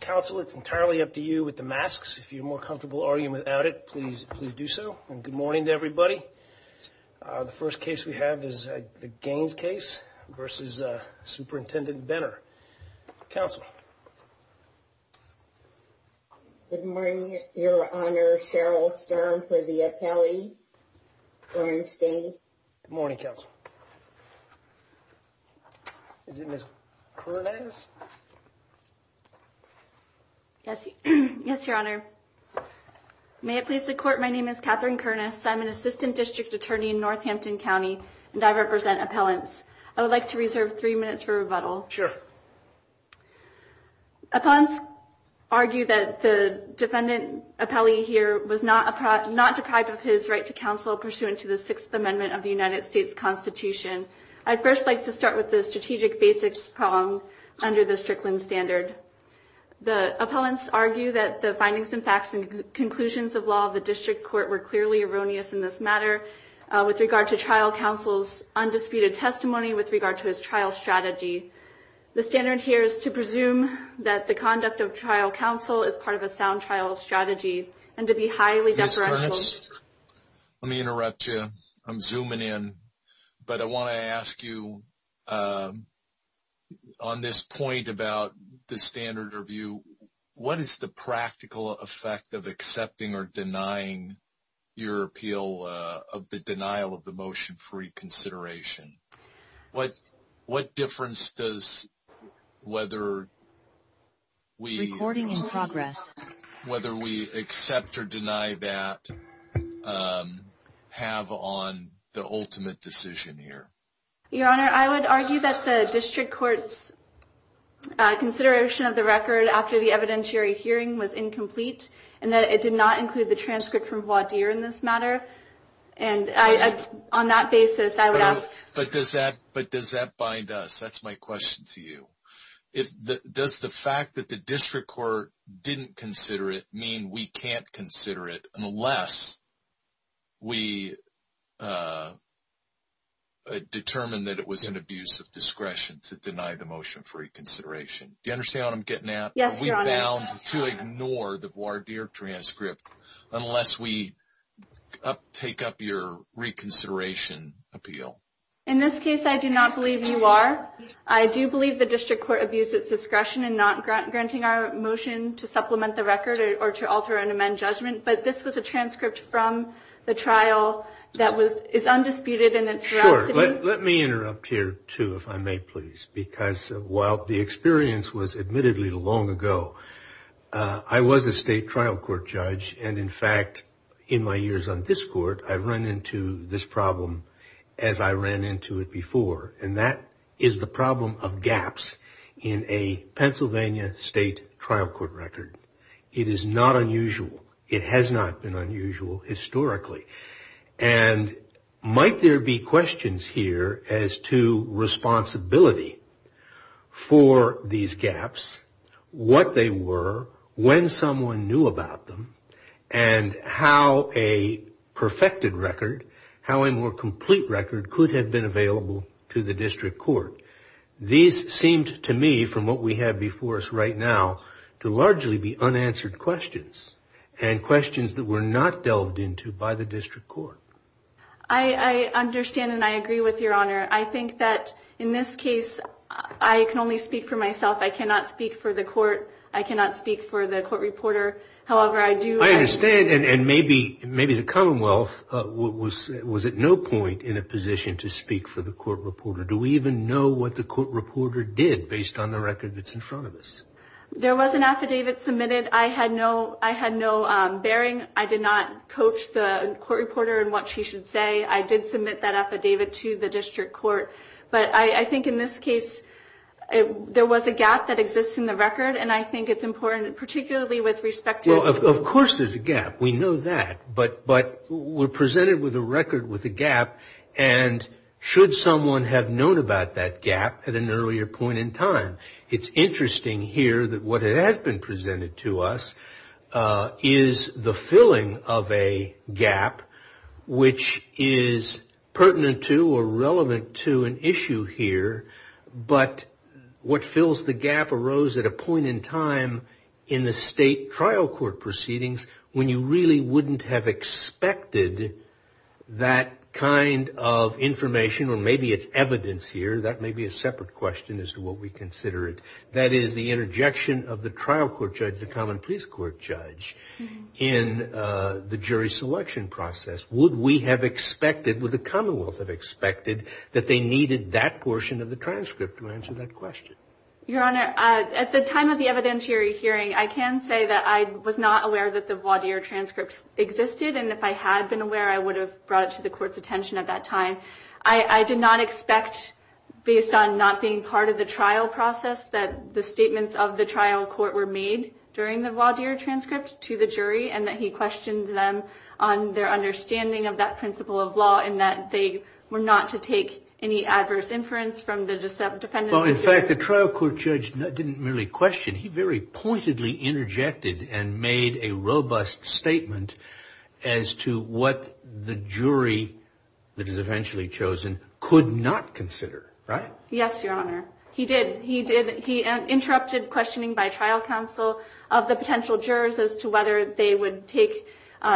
Council, it's entirely up to you with the masks. If you're more comfortable arguing without it, please, please do so. And good morning to everybody. The first case we have is the Gaines case versus Superintendent Benner. Council. Good morning, Your Honor. Cheryl Stern for the appellee. Good morning, Counsel. Is it Ms. Pernaz? Yes, Your Honor. May it please the court. My name is Katherine Kernis. I'm an assistant district attorney in Northampton County, and I represent appellants. I would like to reserve three minutes for rebuttal. Appellants argue that the defendant appellee here was not deprived of his right to counsel pursuant to the Sixth Amendment of the United States Constitution. I'd first like to start with the strategic basics poem under the Strickland standard. The appellants argue that the findings and facts and conclusions of law of the district court were clearly erroneous in this matter with regard to trial counsel's undisputed testimony with regard to his trial strategy. The standard here is to presume that the conduct of trial counsel is part of a sound trial strategy and to be highly deferential. Let me interrupt you. I'm zooming in, but I want to ask you on this point about the standard review. What is the practical effect of accepting or denying your appeal of the denial of the motion for reconsideration? What difference does whether we recording in progress, whether we accept or deny that have on the ultimate decision here? Your Honor, I would argue that the district court's consideration of the record after the evidentiary hearing was incomplete and that it did not include the transcript from voir dire in this matter. And on that basis, I would ask, but does that but does that bind us? That's my question to you. If the does the fact that the district court didn't consider it mean we can't consider it unless we determined that it was an abuse of discretion to deny the motion for reconsideration. Do you understand what I'm getting at? Yes, Your Honor. We're bound to ignore the voir dire transcript unless we take up your reconsideration appeal. In this case, I do not believe you are. I do believe the district court abused its discretion in not granting our motion to supplement the record or to alter and amend judgment. But this was a transcript from the trial that is undisputed in its veracity. Let me interrupt here, too, if I may, please, because while the experience was admittedly long ago, I was a state trial court judge. And in fact, in my years on this court, I've run into this problem as I ran into it before. And that is the problem of gaps in a Pennsylvania state trial court record. It is not unusual. It has not been unusual historically. And might there be questions here as to responsibility for these gaps, what they were, when someone knew about them, and how a perfected record, how a more complete record could have been available to the district court. These seemed to me, from what we have before us right now, to largely be unanswered questions and questions that were not delved into by the district court. I understand and I agree with your honor. I think that in this case, I can only speak for myself. I cannot speak for the court. I cannot speak for the court reporter. However, I do. I understand. And maybe maybe the Commonwealth was was at no point in a position to speak for the court reporter. Do we even know what the court reporter did based on the record that's in front of us? There was an affidavit submitted. I had no I had no bearing. I did not coach the court reporter and what she should say. I did submit that affidavit to the district court. But I think in this case, there was a gap that exists in the record. And I think it's important, particularly with respect to. Well, of course, there's a gap. We know that. But but we're presented with a record with a gap. And should someone have known about that gap at an earlier point in time? It's interesting here that what has been presented to us is the filling of a gap which is pertinent to or relevant to an issue here. But what fills the gap arose at a point in time in the state trial court proceedings when you really wouldn't have expected that kind of information or maybe it's evidence here. That may be a separate question as to what we consider it. That is the interjection of the trial court judge, the common police court judge in the jury selection process. Would we have expected, would the Commonwealth have expected that they needed that portion of the transcript to answer that question? Your Honor, at the time of the evidentiary hearing, I can say that I was not aware that the voir dire transcript existed. And if I had been aware, I would have brought it to the court's attention at that time. I did not expect, based on not being part of the trial process, that the statements of the trial court were made during the voir dire transcript to the jury. And that he questioned them on their understanding of that principle of law and that they were not to take any adverse inference from the defendant. Well, in fact, the trial court judge didn't really question. He very pointedly interjected and made a robust statement as to what the jury that is eventually chosen could not consider, right? Yes, Your Honor, he did. He interrupted questioning by trial counsel of the potential jurors as to whether they would take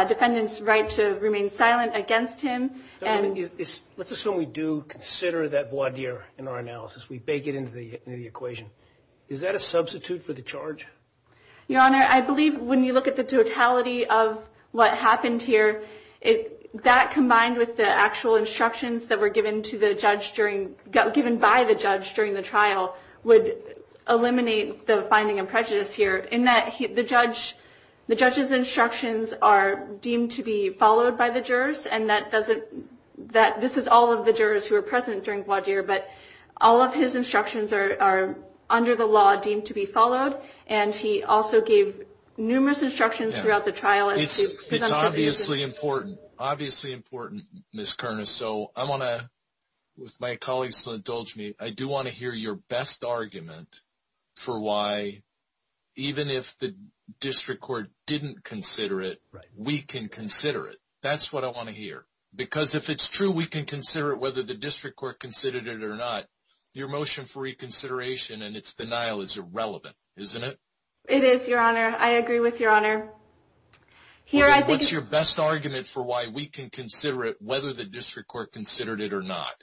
defendant's right to remain silent against him. Let's assume we do consider that voir dire in our analysis. We bake it into the equation. Is that a substitute for the charge? Your Honor, I believe when you look at the totality of what happened here, that combined with the actual instructions that were given to the judge during, given by the judge during the trial, would eliminate the finding of prejudice here. In that the judge, the judge's instructions are deemed to be followed by the jurors. And that doesn't, that this is all of the jurors who are present during voir dire. But all of his instructions are under the law deemed to be followed. And he also gave numerous instructions throughout the trial. It's obviously important. Obviously important, Ms. Kernis. So I want to, with my colleagues to indulge me, I do want to hear your best argument for why, even if the district court didn't consider it, we can consider it. That's what I want to hear. Because if it's true, we can consider it whether the district court considered it or not. Your motion for reconsideration and its denial is irrelevant, isn't it? It is, Your Honor. I agree with Your Honor. What's your best argument for why we can consider it whether the district court considered it or not?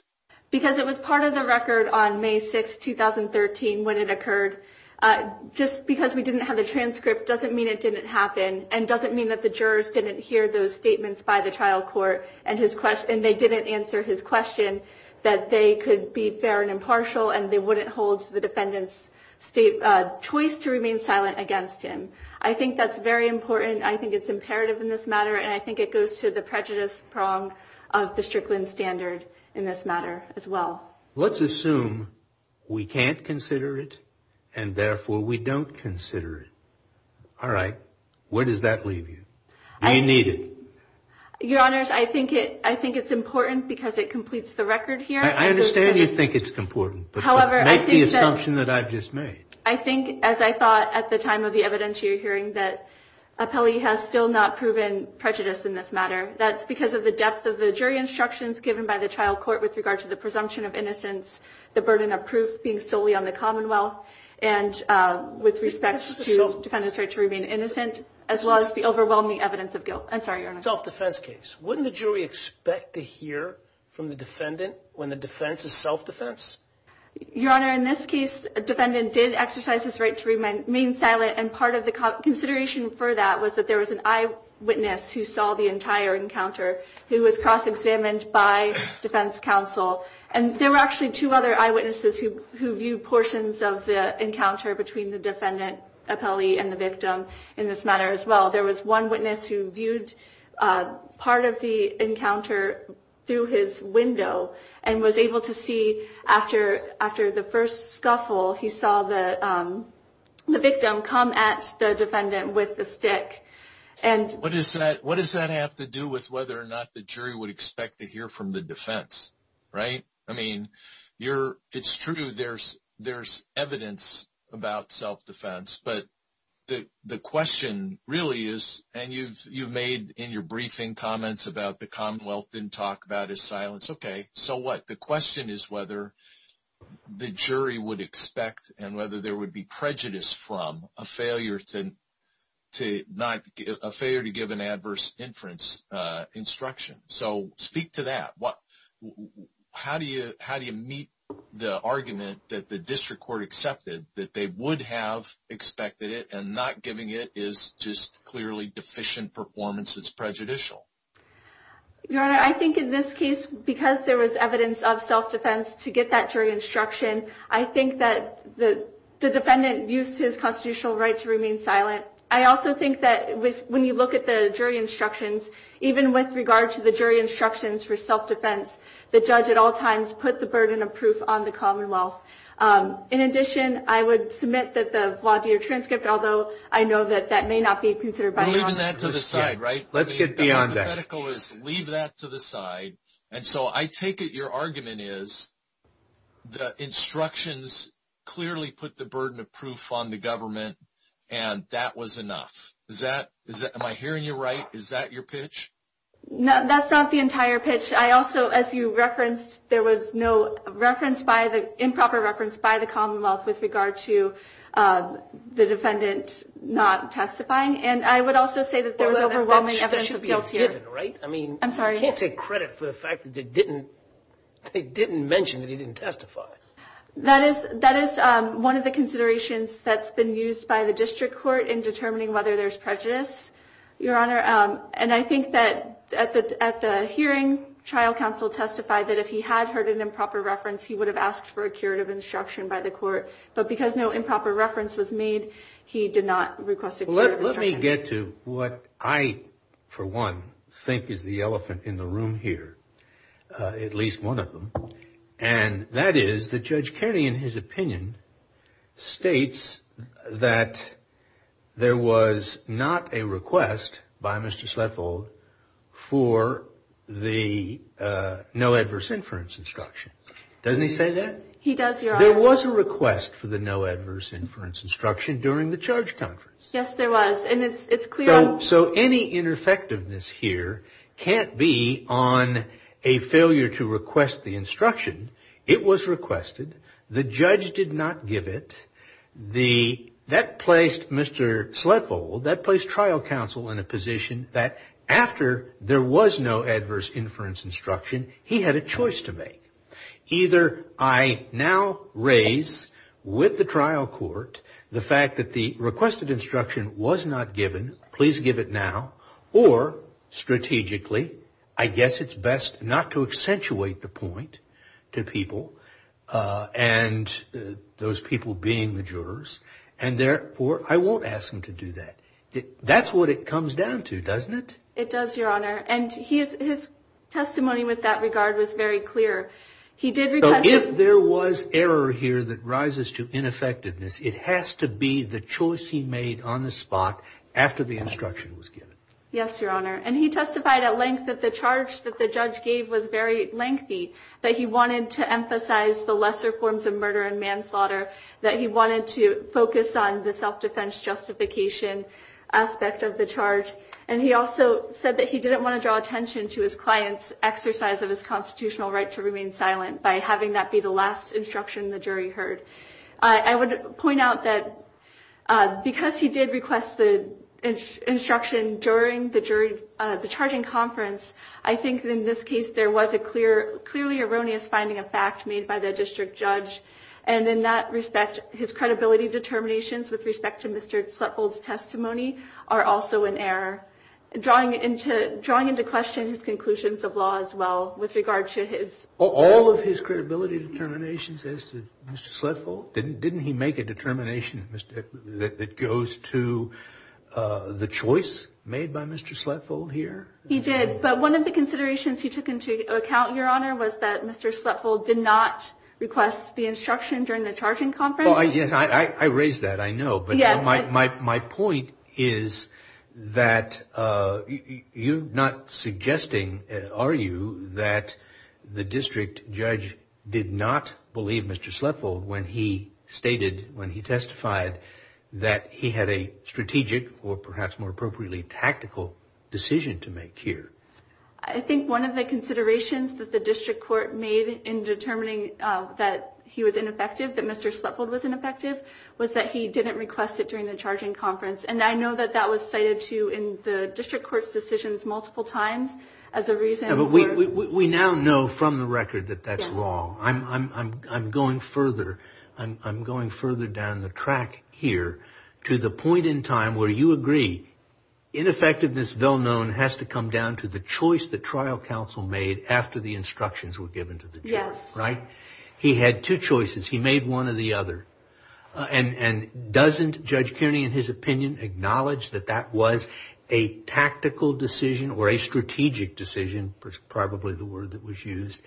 Because it was part of the record on May 6, 2013, when it occurred. Just because we didn't have the transcript doesn't mean it didn't happen. And doesn't mean that the jurors didn't hear those statements by the trial court. And they didn't answer his question that they could be fair and impartial. And they wouldn't hold the defendant's choice to remain silent against him. I think that's very important. I think it's imperative in this matter. And I think it goes to the prejudice prong of the Strickland standard in this matter as well. Let's assume we can't consider it. And therefore, we don't consider it. All right. Where does that leave you? Do you need it? Your Honors, I think it's important because it completes the record here. I understand you think it's important, but make the assumption that I've just made. I think, as I thought at the time of the evidence you're hearing, that Appelli has still not proven prejudice in this matter. That's because of the depth of the jury instructions given by the trial court with regard to the presumption of innocence, the burden of proof being solely on the Commonwealth, and with respect to the defendant's right to remain innocent, as well as the overwhelming evidence of guilt. I'm sorry, Your Honor. Self-defense case. Wouldn't the jury expect to hear from the defendant when the defense is self-defense? Your Honor, in this case, a defendant did exercise his right to remain silent. And part of the consideration for that was that there was an eyewitness who saw the entire encounter, who was cross-examined by defense counsel. And there were actually two other eyewitnesses who viewed portions of the encounter between the defendant, Appelli, and the victim in this matter as well. There was one witness who viewed part of the encounter through his window and was able to see, after the first scuffle, he saw the victim come at the defendant with the stick. What does that have to do with whether or not the jury would expect to hear from the defense? Right? I mean, it's true there's evidence about self-defense. But the question really is, and you've made in your briefing comments about the Commonwealth didn't talk about his silence. Okay. So what? The question is whether the jury would expect and whether there would be prejudice from a failure to give an adverse inference instruction. So speak to that. How do you meet the argument that the district court accepted that they would have expected it and not giving it is just clearly deficient performance that's prejudicial? Your Honor, I think in this case, because there was evidence of self-defense to get that jury instruction, I think that the defendant used his constitutional right to remain silent. I also think that when you look at the jury instructions, even with regard to the jury instructions for self-defense, the judge at all times put the burden of proof on the Commonwealth. In addition, I would submit that the Vlaadier transcript, although I know that that may not be considered by the Honorable Judge. We're leaving that to the side, right? Let's get beyond that. The hypothetical is leave that to the side. And so I take it your argument is the instructions clearly put the burden of proof on the government, and that was enough. Am I hearing you right? Is that your pitch? No, that's not the entire pitch. I also, as you referenced, there was no improper reference by the Commonwealth with regard to the defendant not testifying. And I would also say that there was overwhelming evidence of guilt here. That should be a given, right? I'm sorry. I can't take credit for the fact that they didn't mention that he didn't testify. That is one of the considerations that's been used by the district court in determining whether there's prejudice, Your Honor. And I think that at the hearing, trial counsel testified that if he had heard an improper reference, he would have asked for a curative instruction by the court. Well, let me get to what I, for one, think is the elephant in the room here, at least one of them. And that is that Judge Kerry, in his opinion, states that there was not a request by Mr. Sletvold for the no adverse inference instruction. Doesn't he say that? He does, Your Honor. There was a request for the no adverse inference instruction during the charge conference. Yes, there was. And it's clear. So any ineffectiveness here can't be on a failure to request the instruction. It was requested. The judge did not give it. That placed Mr. Sletvold, that placed trial counsel in a position that after there was no adverse inference instruction, he had a choice to make. Either I now raise with the trial court the fact that the requested instruction was not given. Please give it now. Or strategically, I guess it's best not to accentuate the point to people and those people being the jurors. And therefore, I won't ask him to do that. That's what it comes down to, doesn't it? It does, Your Honor. And his testimony with that regard was very clear. He did request it. So if there was error here that rises to ineffectiveness, it has to be the choice he made on the spot after the instruction was given. Yes, Your Honor. And he testified at length that the charge that the judge gave was very lengthy, that he wanted to emphasize the lesser forms of murder and manslaughter, that he wanted to focus on the self-defense justification aspect of the charge. And he also said that he didn't want to draw attention to his client's exercise of his constitutional right to remain silent by having that be the last instruction the jury heard. I would point out that because he did request the instruction during the charging conference, I think in this case there was a clearly erroneous finding of fact made by the district judge. And in that respect, his credibility determinations with respect to Mr. Sletfold's testimony are also in error, drawing into question his conclusions of law as well with regard to his... All of his credibility determinations as to Mr. Sletfold? Didn't he make a determination that goes to the choice made by Mr. Sletfold here? He did. But one of the considerations he took into account, Your Honor, was that Mr. Sletfold did not request the instruction during the charging conference? Yes, I raised that, I know. But my point is that you're not suggesting, are you, that the district judge did not believe Mr. Sletfold when he stated, when he testified that he had a strategic or perhaps more appropriately tactical decision to make here? I think one of the considerations that the district court made in determining that he was ineffective, that Mr. Sletfold was ineffective, was that he didn't request it during the charging conference. And I know that that was cited too in the district court's decisions multiple times as a reason for... We now know from the record that that's wrong. Yes. I'm going further. I'm going further down the track here to the point in time where you agree ineffectiveness, well known, has to come down to the choice the trial counsel made after the instructions were given to the judge. Yes. Right? He had two choices. He made one or the other. And doesn't Judge Kearney, in his opinion, acknowledge that that was a tactical decision or a strategic decision, probably the word that was used,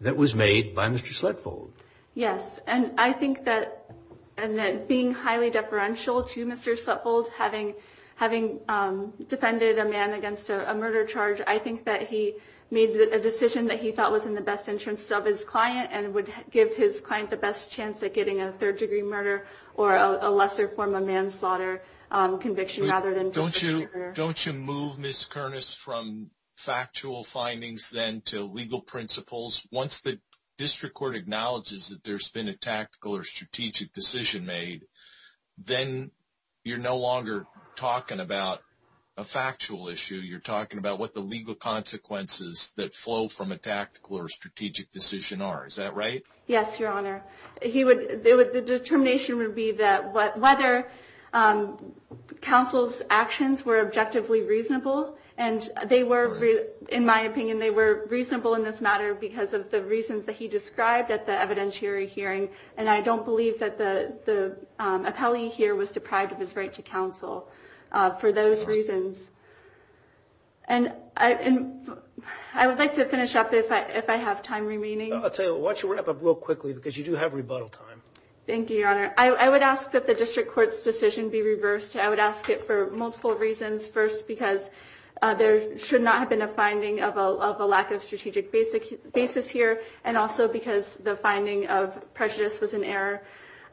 that was made by Mr. Sletfold? Yes. And I think that being highly deferential to Mr. Sletfold, having defended a man against a murder charge, I think that he made a decision that he thought was in the best interest of his client and would give his client the best chance at getting a third degree murder or a lesser form of manslaughter conviction rather than... Don't you move, Ms. Kernis, from factual findings then to legal principles? Once the district court acknowledges that there's been a tactical or strategic decision made, then you're no longer talking about a factual issue. You're talking about what the legal consequences that flow from a tactical or strategic decision are. Is that right? Yes, Your Honor. The determination would be that whether counsel's actions were objectively reasonable, and they were, in my opinion, they were reasonable in this matter because of the reasons that he described at the evidentiary hearing. And I don't believe that the appellee here was deprived of his right to counsel for those reasons. And I would like to finish up if I have time remaining. Why don't you wrap up real quickly because you do have rebuttal time. Thank you, Your Honor. I would ask that the district court's decision be reversed. I would ask it for multiple reasons. First, because there should not have been a finding of a lack of strategic basis here, and also because the finding of prejudice was an error.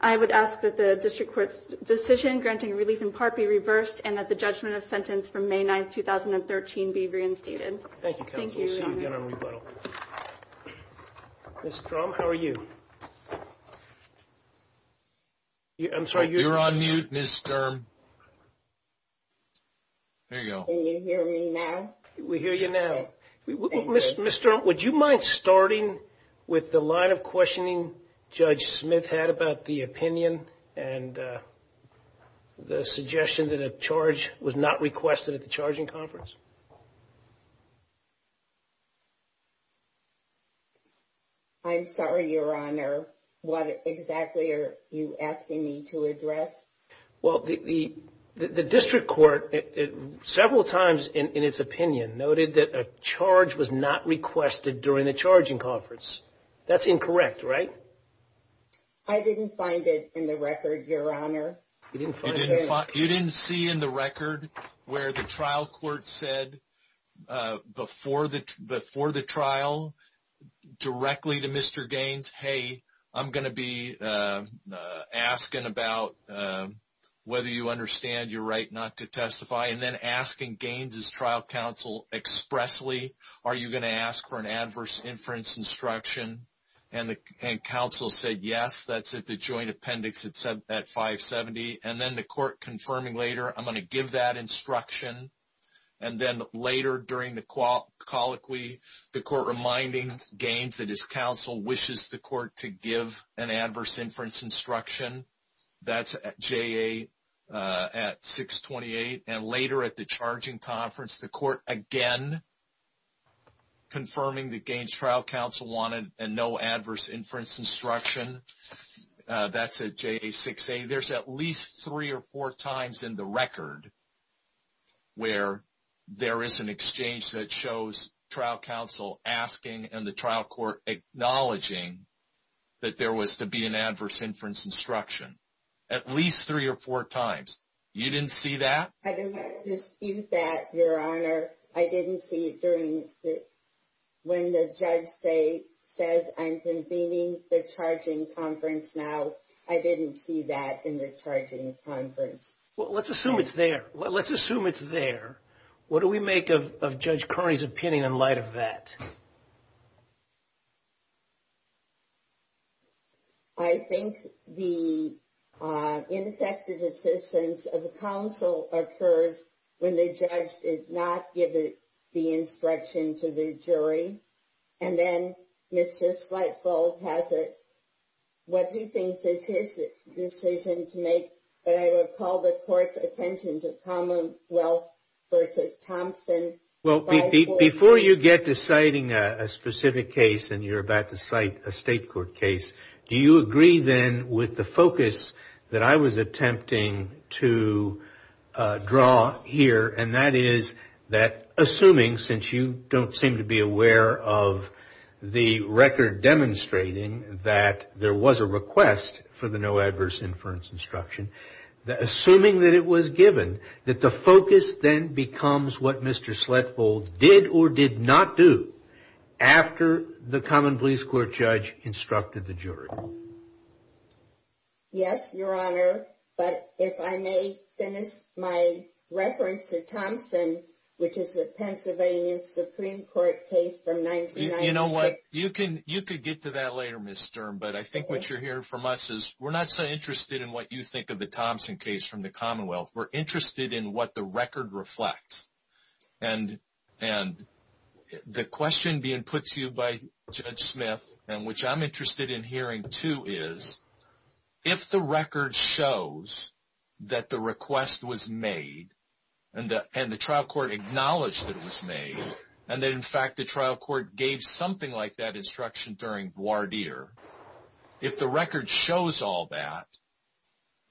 I would ask that the district court's decision granting relief in part be reversed and that the judgment of sentence from May 9, 2013 be reinstated. Thank you, counsel. Thank you, Your Honor. We'll see you again on rebuttal. Ms. Sturm, how are you? I'm sorry, you're on mute, Ms. Sturm. Can you hear me now? We hear you now. Ms. Sturm, would you mind starting with the line of questioning Judge Smith had about the opinion and the suggestion that a charge was not requested at the charging conference? I'm sorry, Your Honor. What exactly are you asking me to address? Well, the district court, several times in its opinion, noted that a charge was not requested during the charging conference. That's incorrect, right? I didn't find it in the record, Your Honor. You didn't see in the record where the trial court said before the trial directly to Mr. Gaines, hey, I'm going to be asking about whether you understand your right not to testify and then asking Gaines's trial counsel expressly, are you going to ask for an adverse inference instruction? And counsel said, yes, that's at the joint appendix at 570. And then the court confirming later, I'm going to give that instruction. And then later during the colloquy, the court reminding Gaines that his counsel wishes the court to give an adverse inference instruction. That's at JA at 628. And later at the charging conference, the court again confirming that Gaines's trial counsel wanted a no adverse inference instruction. That's at JA 680. There's at least three or four times in the record where there is an exchange that shows trial counsel asking and the trial court acknowledging that there was to be an adverse inference instruction. At least three or four times. You didn't see that? I do not dispute that, Your Honor. I didn't see it during when the judge says I'm convening the charging conference now. I didn't see that in the charging conference. Well, let's assume it's there. Let's assume it's there. What do we make of Judge Carney's opinion in light of that? I think the ineffective assistance of the counsel occurs when the judge did not give the instruction to the jury. And then Mr. Slightfold has it. What he thinks is his decision to make. But I would call the court's attention to Commonwealth v. Thompson. Well, before you get to citing a specific case and you're about to cite a state court case, do you agree then with the focus that I was attempting to draw here? And that is that assuming, since you don't seem to be aware of the record demonstrating that there was a request for the no adverse inference instruction, assuming that it was given, that the focus then becomes what Mr. Slightfold did or did not do after the common police court judge instructed the jury. Yes, Your Honor. But if I may finish my reference to Thompson, which is a Pennsylvania Supreme Court case from 1996. You know what? You could get to that later, Ms. Sturm. But I think what you're hearing from us is we're not so interested in what you think of the Thompson case from the Commonwealth. We're interested in what the record reflects. And the question being put to you by Judge Smith, and which I'm interested in hearing too, is, if the record shows that the request was made and the trial court acknowledged that it was made, and that in fact the trial court gave something like that instruction during voir dire, if the record shows all that,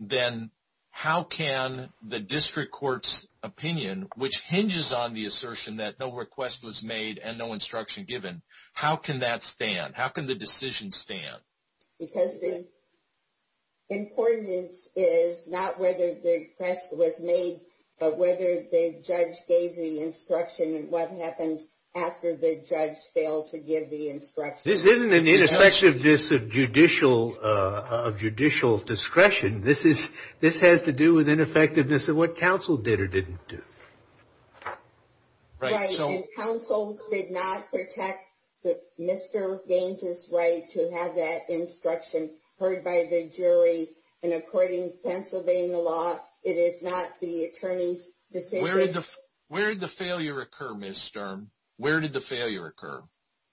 then how can the district court's opinion, which hinges on the assertion that no request was made and no instruction given, how can that stand? How can the decision stand? Because the importance is not whether the request was made, but whether the judge gave the instruction and what happened after the judge failed to give the instruction. This isn't an ineffectiveness of judicial discretion. This has to do with ineffectiveness of what counsel did or didn't do. Right. And counsel did not protect Mr. Gaines's right to have that instruction heard by the jury. And according to Pennsylvania law, it is not the attorney's decision. Where did the failure occur, Ms. Sturm? Where did the failure occur?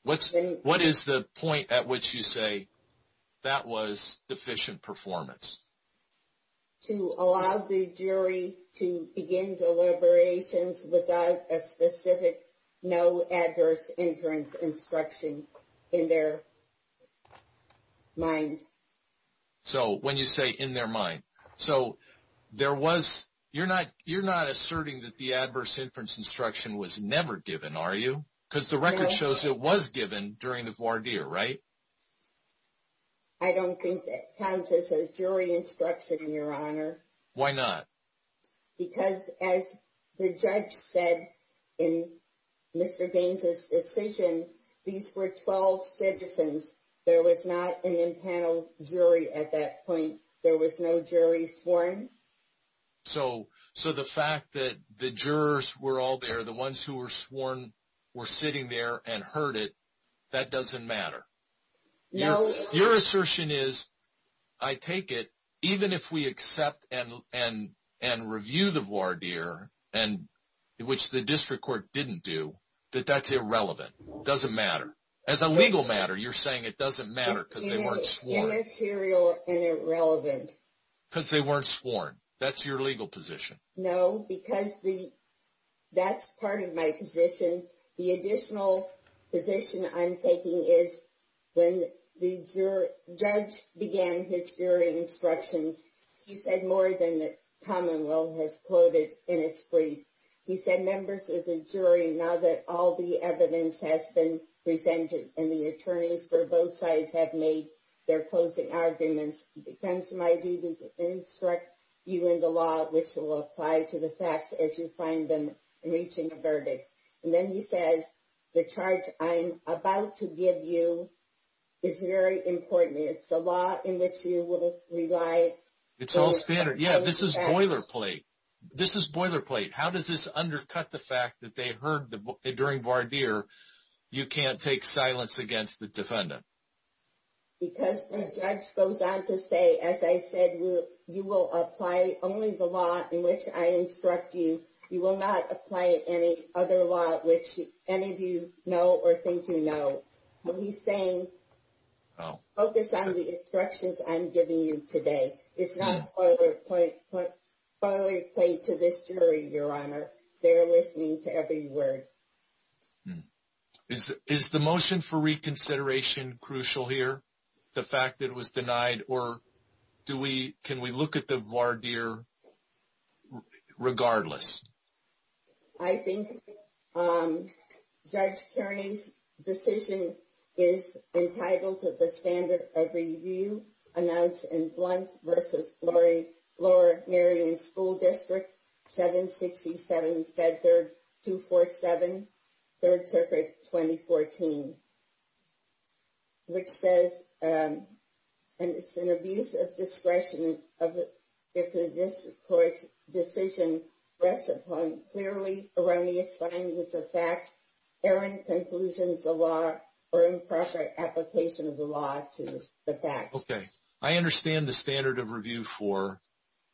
What is the point at which you say that was deficient performance? To allow the jury to begin deliberations without a specific no adverse inference instruction in their mind. So when you say in their mind. So there was, you're not asserting that the adverse inference instruction was never given, are you? Because the record shows it was given during the voir dire, right? I don't think that counts as a jury instruction, Your Honor. Why not? Because as the judge said in Mr. Gaines's decision, these were 12 citizens. There was not an impanel jury at that point. There was no jury sworn. So the fact that the jurors were all there, the ones who were sworn were sitting there and heard it, that doesn't matter. No. Your assertion is, I take it, even if we accept and review the voir dire, which the district court didn't do, that that's irrelevant. It doesn't matter. As a legal matter, you're saying it doesn't matter because they weren't sworn. Immaterial and irrelevant. Because they weren't sworn. That's your legal position. No, because that's part of my position. The additional position I'm taking is when the judge began his jury instructions, he said more than the commonwealth has quoted in its brief. He said members of the jury, now that all the evidence has been presented and the attorneys for both sides have made their closing arguments, it becomes my duty to instruct you in the law, which will apply to the facts as you find them reaching a verdict. And then he says the charge I'm about to give you is very important. It's a law in which you will rely. It's all standard. Yeah, this is boilerplate. This is boilerplate. How does this undercut the fact that they heard during voir dire you can't take silence against the defendant? Because the judge goes on to say, as I said, you will apply only the law in which I instruct you. You will not apply any other law which any of you know or think you know. He's saying focus on the instructions I'm giving you today. It's not boilerplate to this jury, Your Honor. They're listening to every word. Is the motion for reconsideration crucial here, the fact that it was denied, or can we look at the voir dire regardless? I think Judge Kearney's decision is entitled to the standard of review announced in Blunt v. Lower Marion School District 767 Fed Third 247, 3rd Circuit 2014. Which says it's an abuse of discretion if the district court's decision rests upon clearly around the assignments of fact, errant conclusions of law, or improper application of the law to the fact. Okay. I understand the standard of review for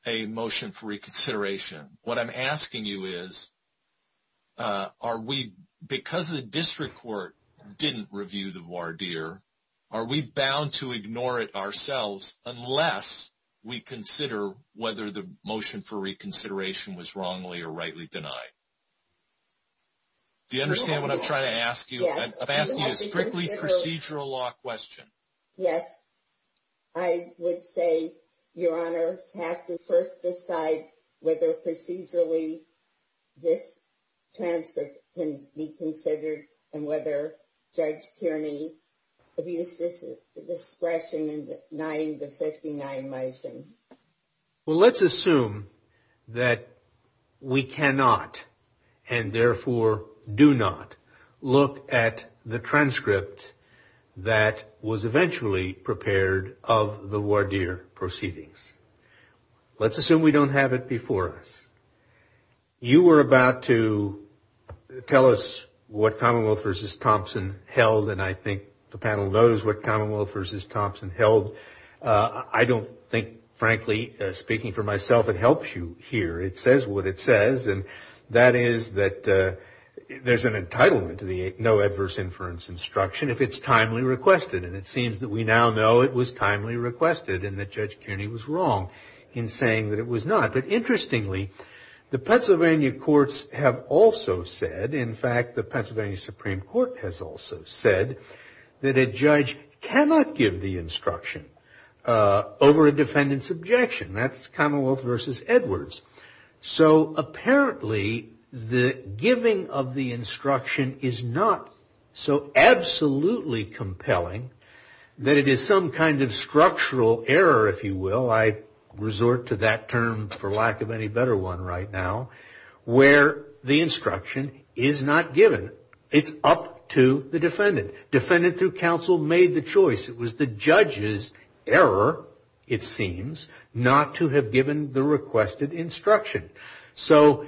a motion for reconsideration. What I'm asking you is, because the district court didn't review the voir dire, are we bound to ignore it ourselves unless we consider whether the motion for reconsideration was wrongly or rightly denied? Do you understand what I'm trying to ask you? I'm asking you a strictly procedural law question. Yes. I would say, Your Honor, have to first decide whether procedurally this transcript can be considered and whether Judge Kearney abused discretion in denying the 59 motion. Well, let's assume that we cannot and therefore do not look at the transcript that was eventually prepared of the voir dire proceedings. Let's assume we don't have it before us. You were about to tell us what Commonwealth v. Thompson held, and I think the panel knows what Commonwealth v. Thompson held. I don't think, frankly, speaking for myself, it helps you here. It says what it says, and that is that there's an entitlement to the no adverse inference instruction if it's timely requested. And it seems that we now know it was timely requested and that Judge Kearney was wrong in saying that it was not. But interestingly, the Pennsylvania courts have also said, in fact, the Pennsylvania Supreme Court has also said that a judge cannot give the instruction over a defendant's objection. That's Commonwealth v. Edwards. So apparently the giving of the instruction is not so absolutely compelling that it is some kind of structural error, if you will. I resort to that term for lack of any better one right now, where the instruction is not given. It's up to the defendant. Defendant through counsel made the choice. It was the judge's error, it seems, not to have given the requested instruction. So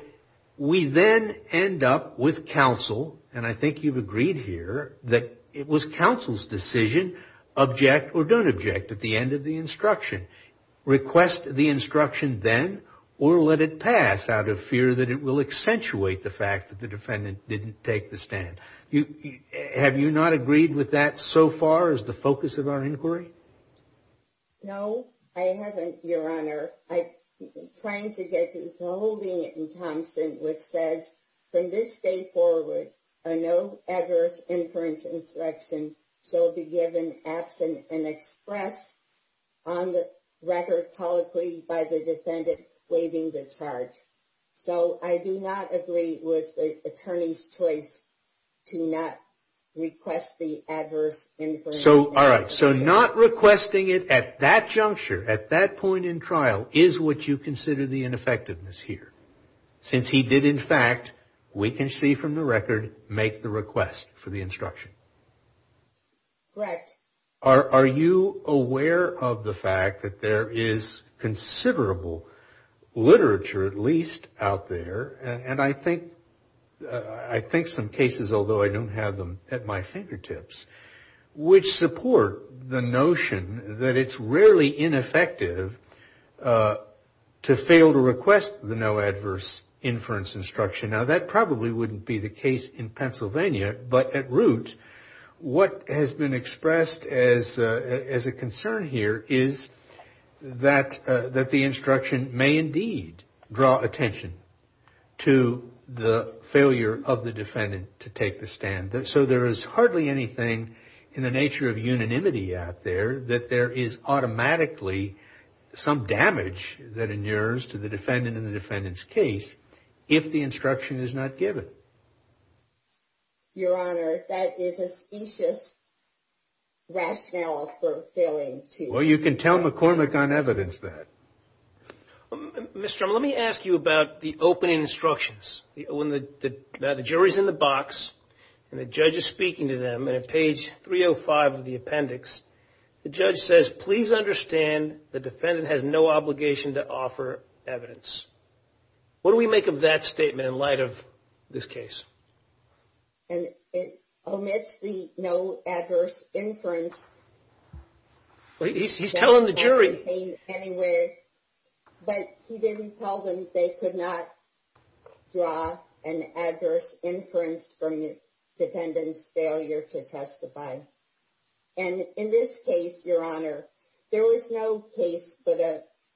we then end up with counsel, and I think you've agreed here that it was counsel's decision, object or don't object at the end of the instruction. Request the instruction then or let it pass out of fear that it will accentuate the fact that the defendant didn't take the stand. Have you not agreed with that so far as the focus of our inquiry? No, I haven't, Your Honor. I'm trying to get to the holding in Thompson, which says, from this day forward, a no adverse inference instruction shall be given absent and expressed on the record colloquially by the defendant waiving the charge. So I do not agree with the attorney's choice to not request the adverse inference instruction. All right, so not requesting it at that juncture, at that point in trial, is what you consider the ineffectiveness here. Since he did, in fact, we can see from the record, make the request for the instruction. Correct. Are you aware of the fact that there is considerable literature, at least out there, and I think some cases, although I don't have them at my fingertips, which support the notion that it's rarely ineffective to fail to request the no adverse inference instruction. Now, that probably wouldn't be the case in Pennsylvania. But at root, what has been expressed as a concern here is that the instruction may indeed draw attention to the failure of the defendant to take the stand. So there is hardly anything in the nature of unanimity out there that there is automatically some damage that inures to the defendant in the defendant's case if the instruction is not given. Your Honor, that is a specious rationale for failing to. Well, you can tell McCormick on evidence that. Ms. Drummond, let me ask you about the opening instructions. Now, the jury is in the box, and the judge is speaking to them. And at page 305 of the appendix, the judge says, please understand the defendant has no obligation to offer evidence. What do we make of that statement in light of this case? And it omits the no adverse inference. He's telling the jury. Anyway, but he didn't tell them they could not draw an adverse inference from the defendant's failure to testify. And in this case, Your Honor, there was no case put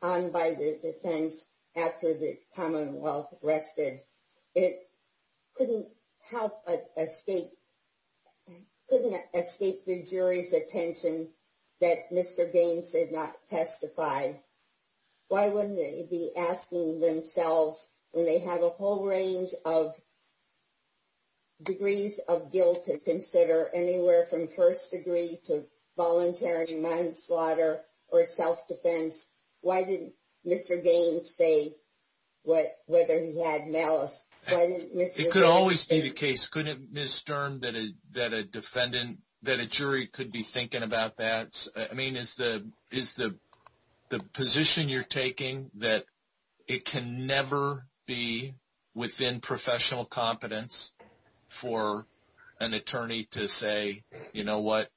on by the defense after the Commonwealth rested. It couldn't help but escape, couldn't escape the jury's attention that Mr. Gaines did not testify. Why wouldn't they be asking themselves when they have a whole range of degrees of guilt to consider anywhere from first degree to voluntary manslaughter or self-defense? Why didn't Mr. Gaines say whether he had malice? It could always be the case, couldn't it, Ms. Sturm, that a jury could be thinking about that? I mean, is the position you're taking that it can never be within professional competence for an attorney to say, you know what,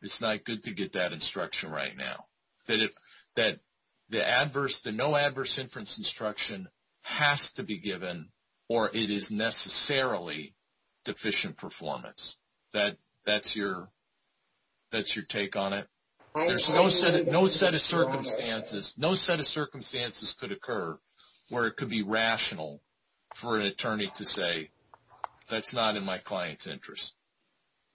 it's not good to get that instruction right now? That the no adverse inference instruction has to be given or it is necessarily deficient performance? That's your take on it? No set of circumstances could occur where it could be rational for an attorney to say, that's not in my client's interest.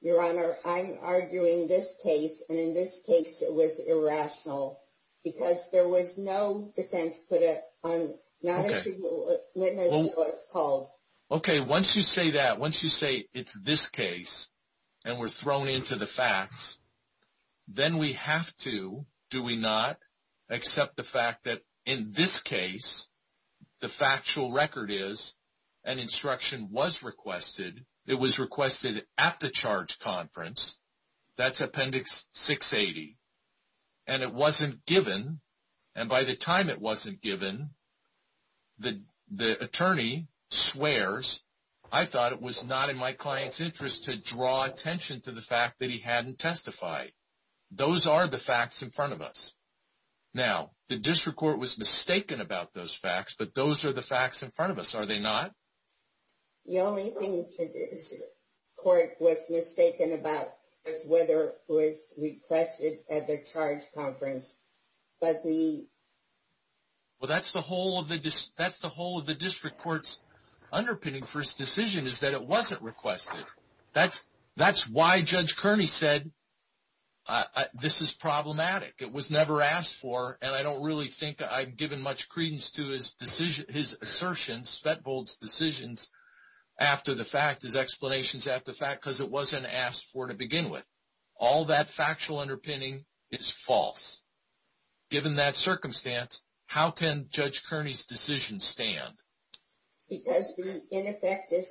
Your Honor, I'm arguing this case. And in this case, it was irrational because there was no defense put on not actually witnessing what was called. Okay, once you say that, once you say it's this case and we're thrown into the facts, then we have to, do we not, accept the fact that in this case, the factual record is an instruction was requested. It was requested at the charge conference. That's appendix 680. And it wasn't given. And by the time it wasn't given, the attorney swears, I thought it was not in my client's interest to draw attention to the fact that he hadn't testified. Those are the facts in front of us. Now, the district court was mistaken about those facts, but those are the facts in front of us, are they not? The only thing the district court was mistaken about was whether it was requested at the charge conference. Well, that's the whole of the district court's underpinning for its decision is that it wasn't requested. That's why Judge Kearney said, this is problematic. It was never asked for. And I don't really think I've given much credence to his assertion, Spetbold's decisions, after the fact, his explanations after the fact, because it wasn't asked for to begin with. All that factual underpinning is false. Given that circumstance, how can Judge Kearney's decision stand? Because the ineffective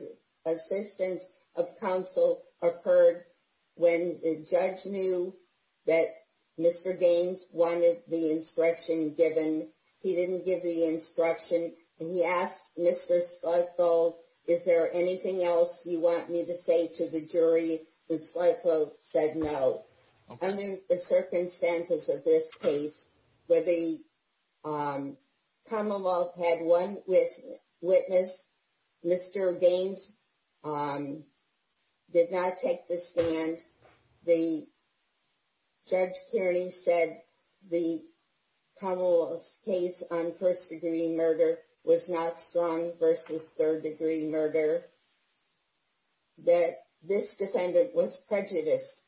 assistance of counsel occurred when the judge knew that Mr. Gaines wanted the instruction given. He didn't give the instruction. He asked Mr. Spetbold, is there anything else you want me to say to the jury? And Spetbold said no. Under the circumstances of this case, where the Commonwealth had one witness, Mr. Gaines did not take the stand. And Judge Kearney said the Commonwealth's case on first-degree murder was not strong versus third-degree murder, that this defendant was prejudiced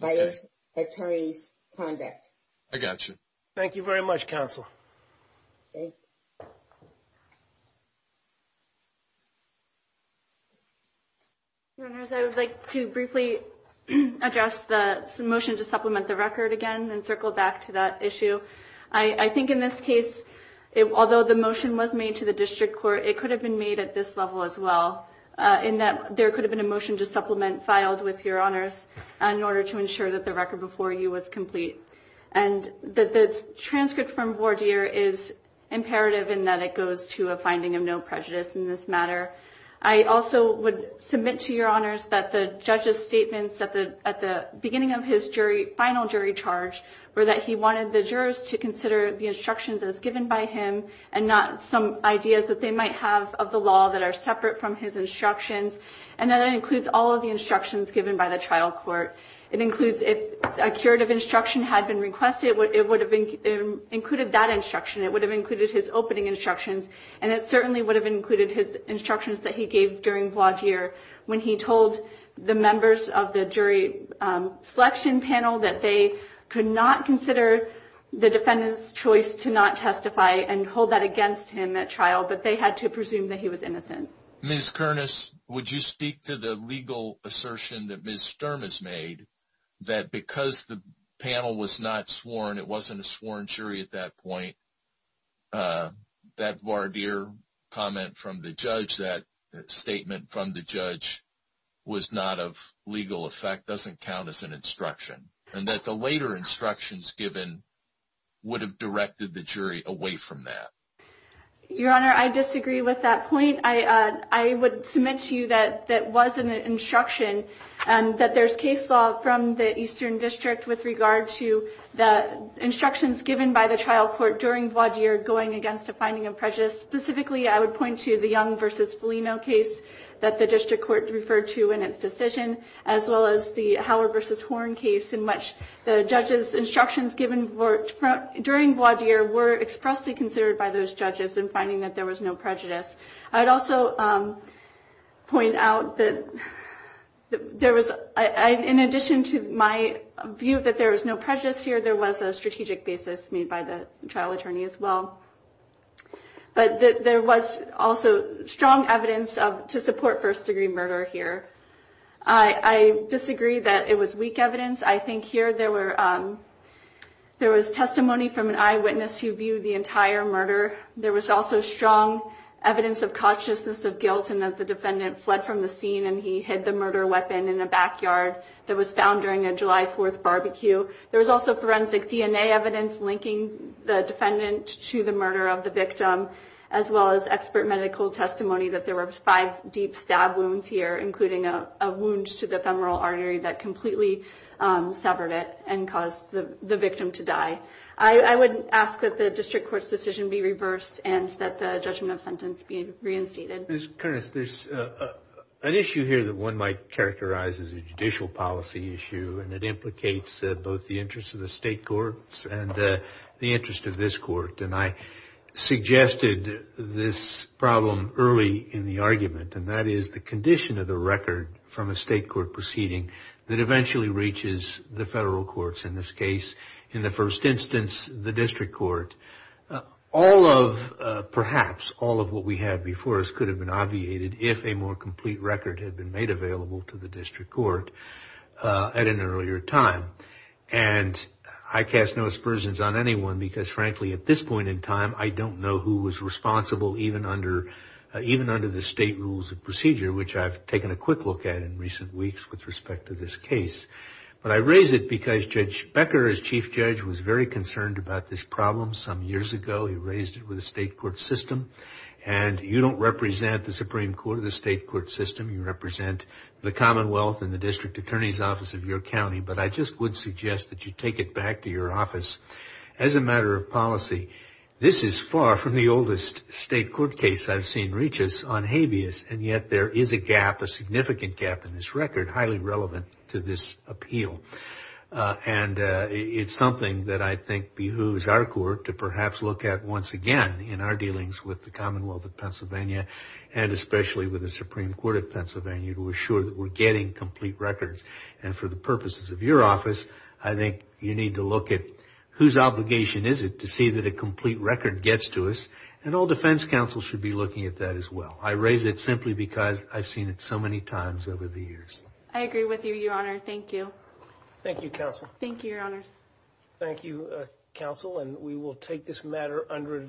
by his attorney's conduct. I got you. Thank you very much, counsel. Thank you. Thank you. Your Honors, I would like to briefly address the motion to supplement the record again and circle back to that issue. I think in this case, although the motion was made to the district court, it could have been made at this level as well, in that there could have been a motion to supplement filed with Your Honors in order to ensure that the record before you was complete. And the transcript from Vordier is imperative in that it goes to a finding of no prejudice in this matter. I also would submit to Your Honors that the judge's statements at the beginning of his final jury charge were that he wanted the jurors to consider the instructions as given by him and not some ideas that they might have of the law that are separate from his instructions. And that includes all of the instructions given by the trial court. It includes if a curative instruction had been requested, it would have included that instruction. It would have included his opening instructions. And it certainly would have included his instructions that he gave during Vordier when he told the members of the jury selection panel that they could not consider the defendant's choice to not testify and hold that against him at trial. But they had to presume that he was innocent. Ms. Kernis, would you speak to the legal assertion that Ms. Sturm has made that because the panel was not sworn, it wasn't a sworn jury at that point, that Vordier comment from the judge, that statement from the judge was not of legal effect, doesn't count as an instruction. And that the later instructions given would have directed the jury away from that. Your Honor, I disagree with that point. I would submit to you that that wasn't an instruction, that there's case law from the Eastern District with regard to the instructions given by the trial court during Vordier going against a finding of prejudice. Specifically, I would point to the Young v. Foligno case that the district court referred to in its decision, as well as the Howard v. Horn case in which the judge's instructions given during Vordier were expressly considered by those judges in finding that there was no prejudice. I'd also point out that there was, in addition to my view that there was no prejudice here, there was a strategic basis made by the trial attorney as well. But there was also strong evidence to support first degree murder here. I disagree that it was weak evidence. I think here there was testimony from an eyewitness who viewed the entire murder. There was also strong evidence of consciousness of guilt and that the defendant fled from the scene and he hid the murder weapon in a backyard that was found during a July 4th barbecue. There was also forensic DNA evidence linking the defendant to the murder of the victim, as well as expert medical testimony that there were five deep stab wounds here, including a wound to the femoral artery that completely severed it and caused the victim to die. I would ask that the district court's decision be reversed and that the judgment of sentence be reinstated. There's an issue here that one might characterize as a judicial policy issue, and it implicates both the interest of the state courts and the interest of this court. And I suggested this problem early in the argument, and that is the condition of the record from a state court proceeding that eventually reaches the federal courts in this case. In the first instance, the district court, all of perhaps all of what we had before us could have been obviated if a more complete record had been made available to the district court at an earlier time. And I cast no aspersions on anyone, because frankly, at this point in time, I don't know who was responsible even under even under the state rules of procedure, which I've taken a quick look at in recent weeks with respect to this case. But I raise it because Judge Becker, as chief judge, was very concerned about this problem some years ago. He raised it with the state court system. And you don't represent the Supreme Court or the state court system. You represent the Commonwealth and the district attorney's office of your county. But I just would suggest that you take it back to your office as a matter of policy. This is far from the oldest state court case I've seen reach us on habeas. And yet there is a gap, a significant gap in this record, highly relevant to this appeal. And it's something that I think behooves our court to perhaps look at once again in our dealings with the Commonwealth of Pennsylvania and especially with the Supreme Court of Pennsylvania to assure that we're getting complete records. And for the purposes of your office, I think you need to look at whose obligation is it to see that a complete record gets to us. And all defense counsel should be looking at that as well. I raise it simply because I've seen it so many times over the years. I agree with you, your honor. Thank you. Thank you, counsel. Thank you, your honors. Thank you, counsel. And we will take this matter under review.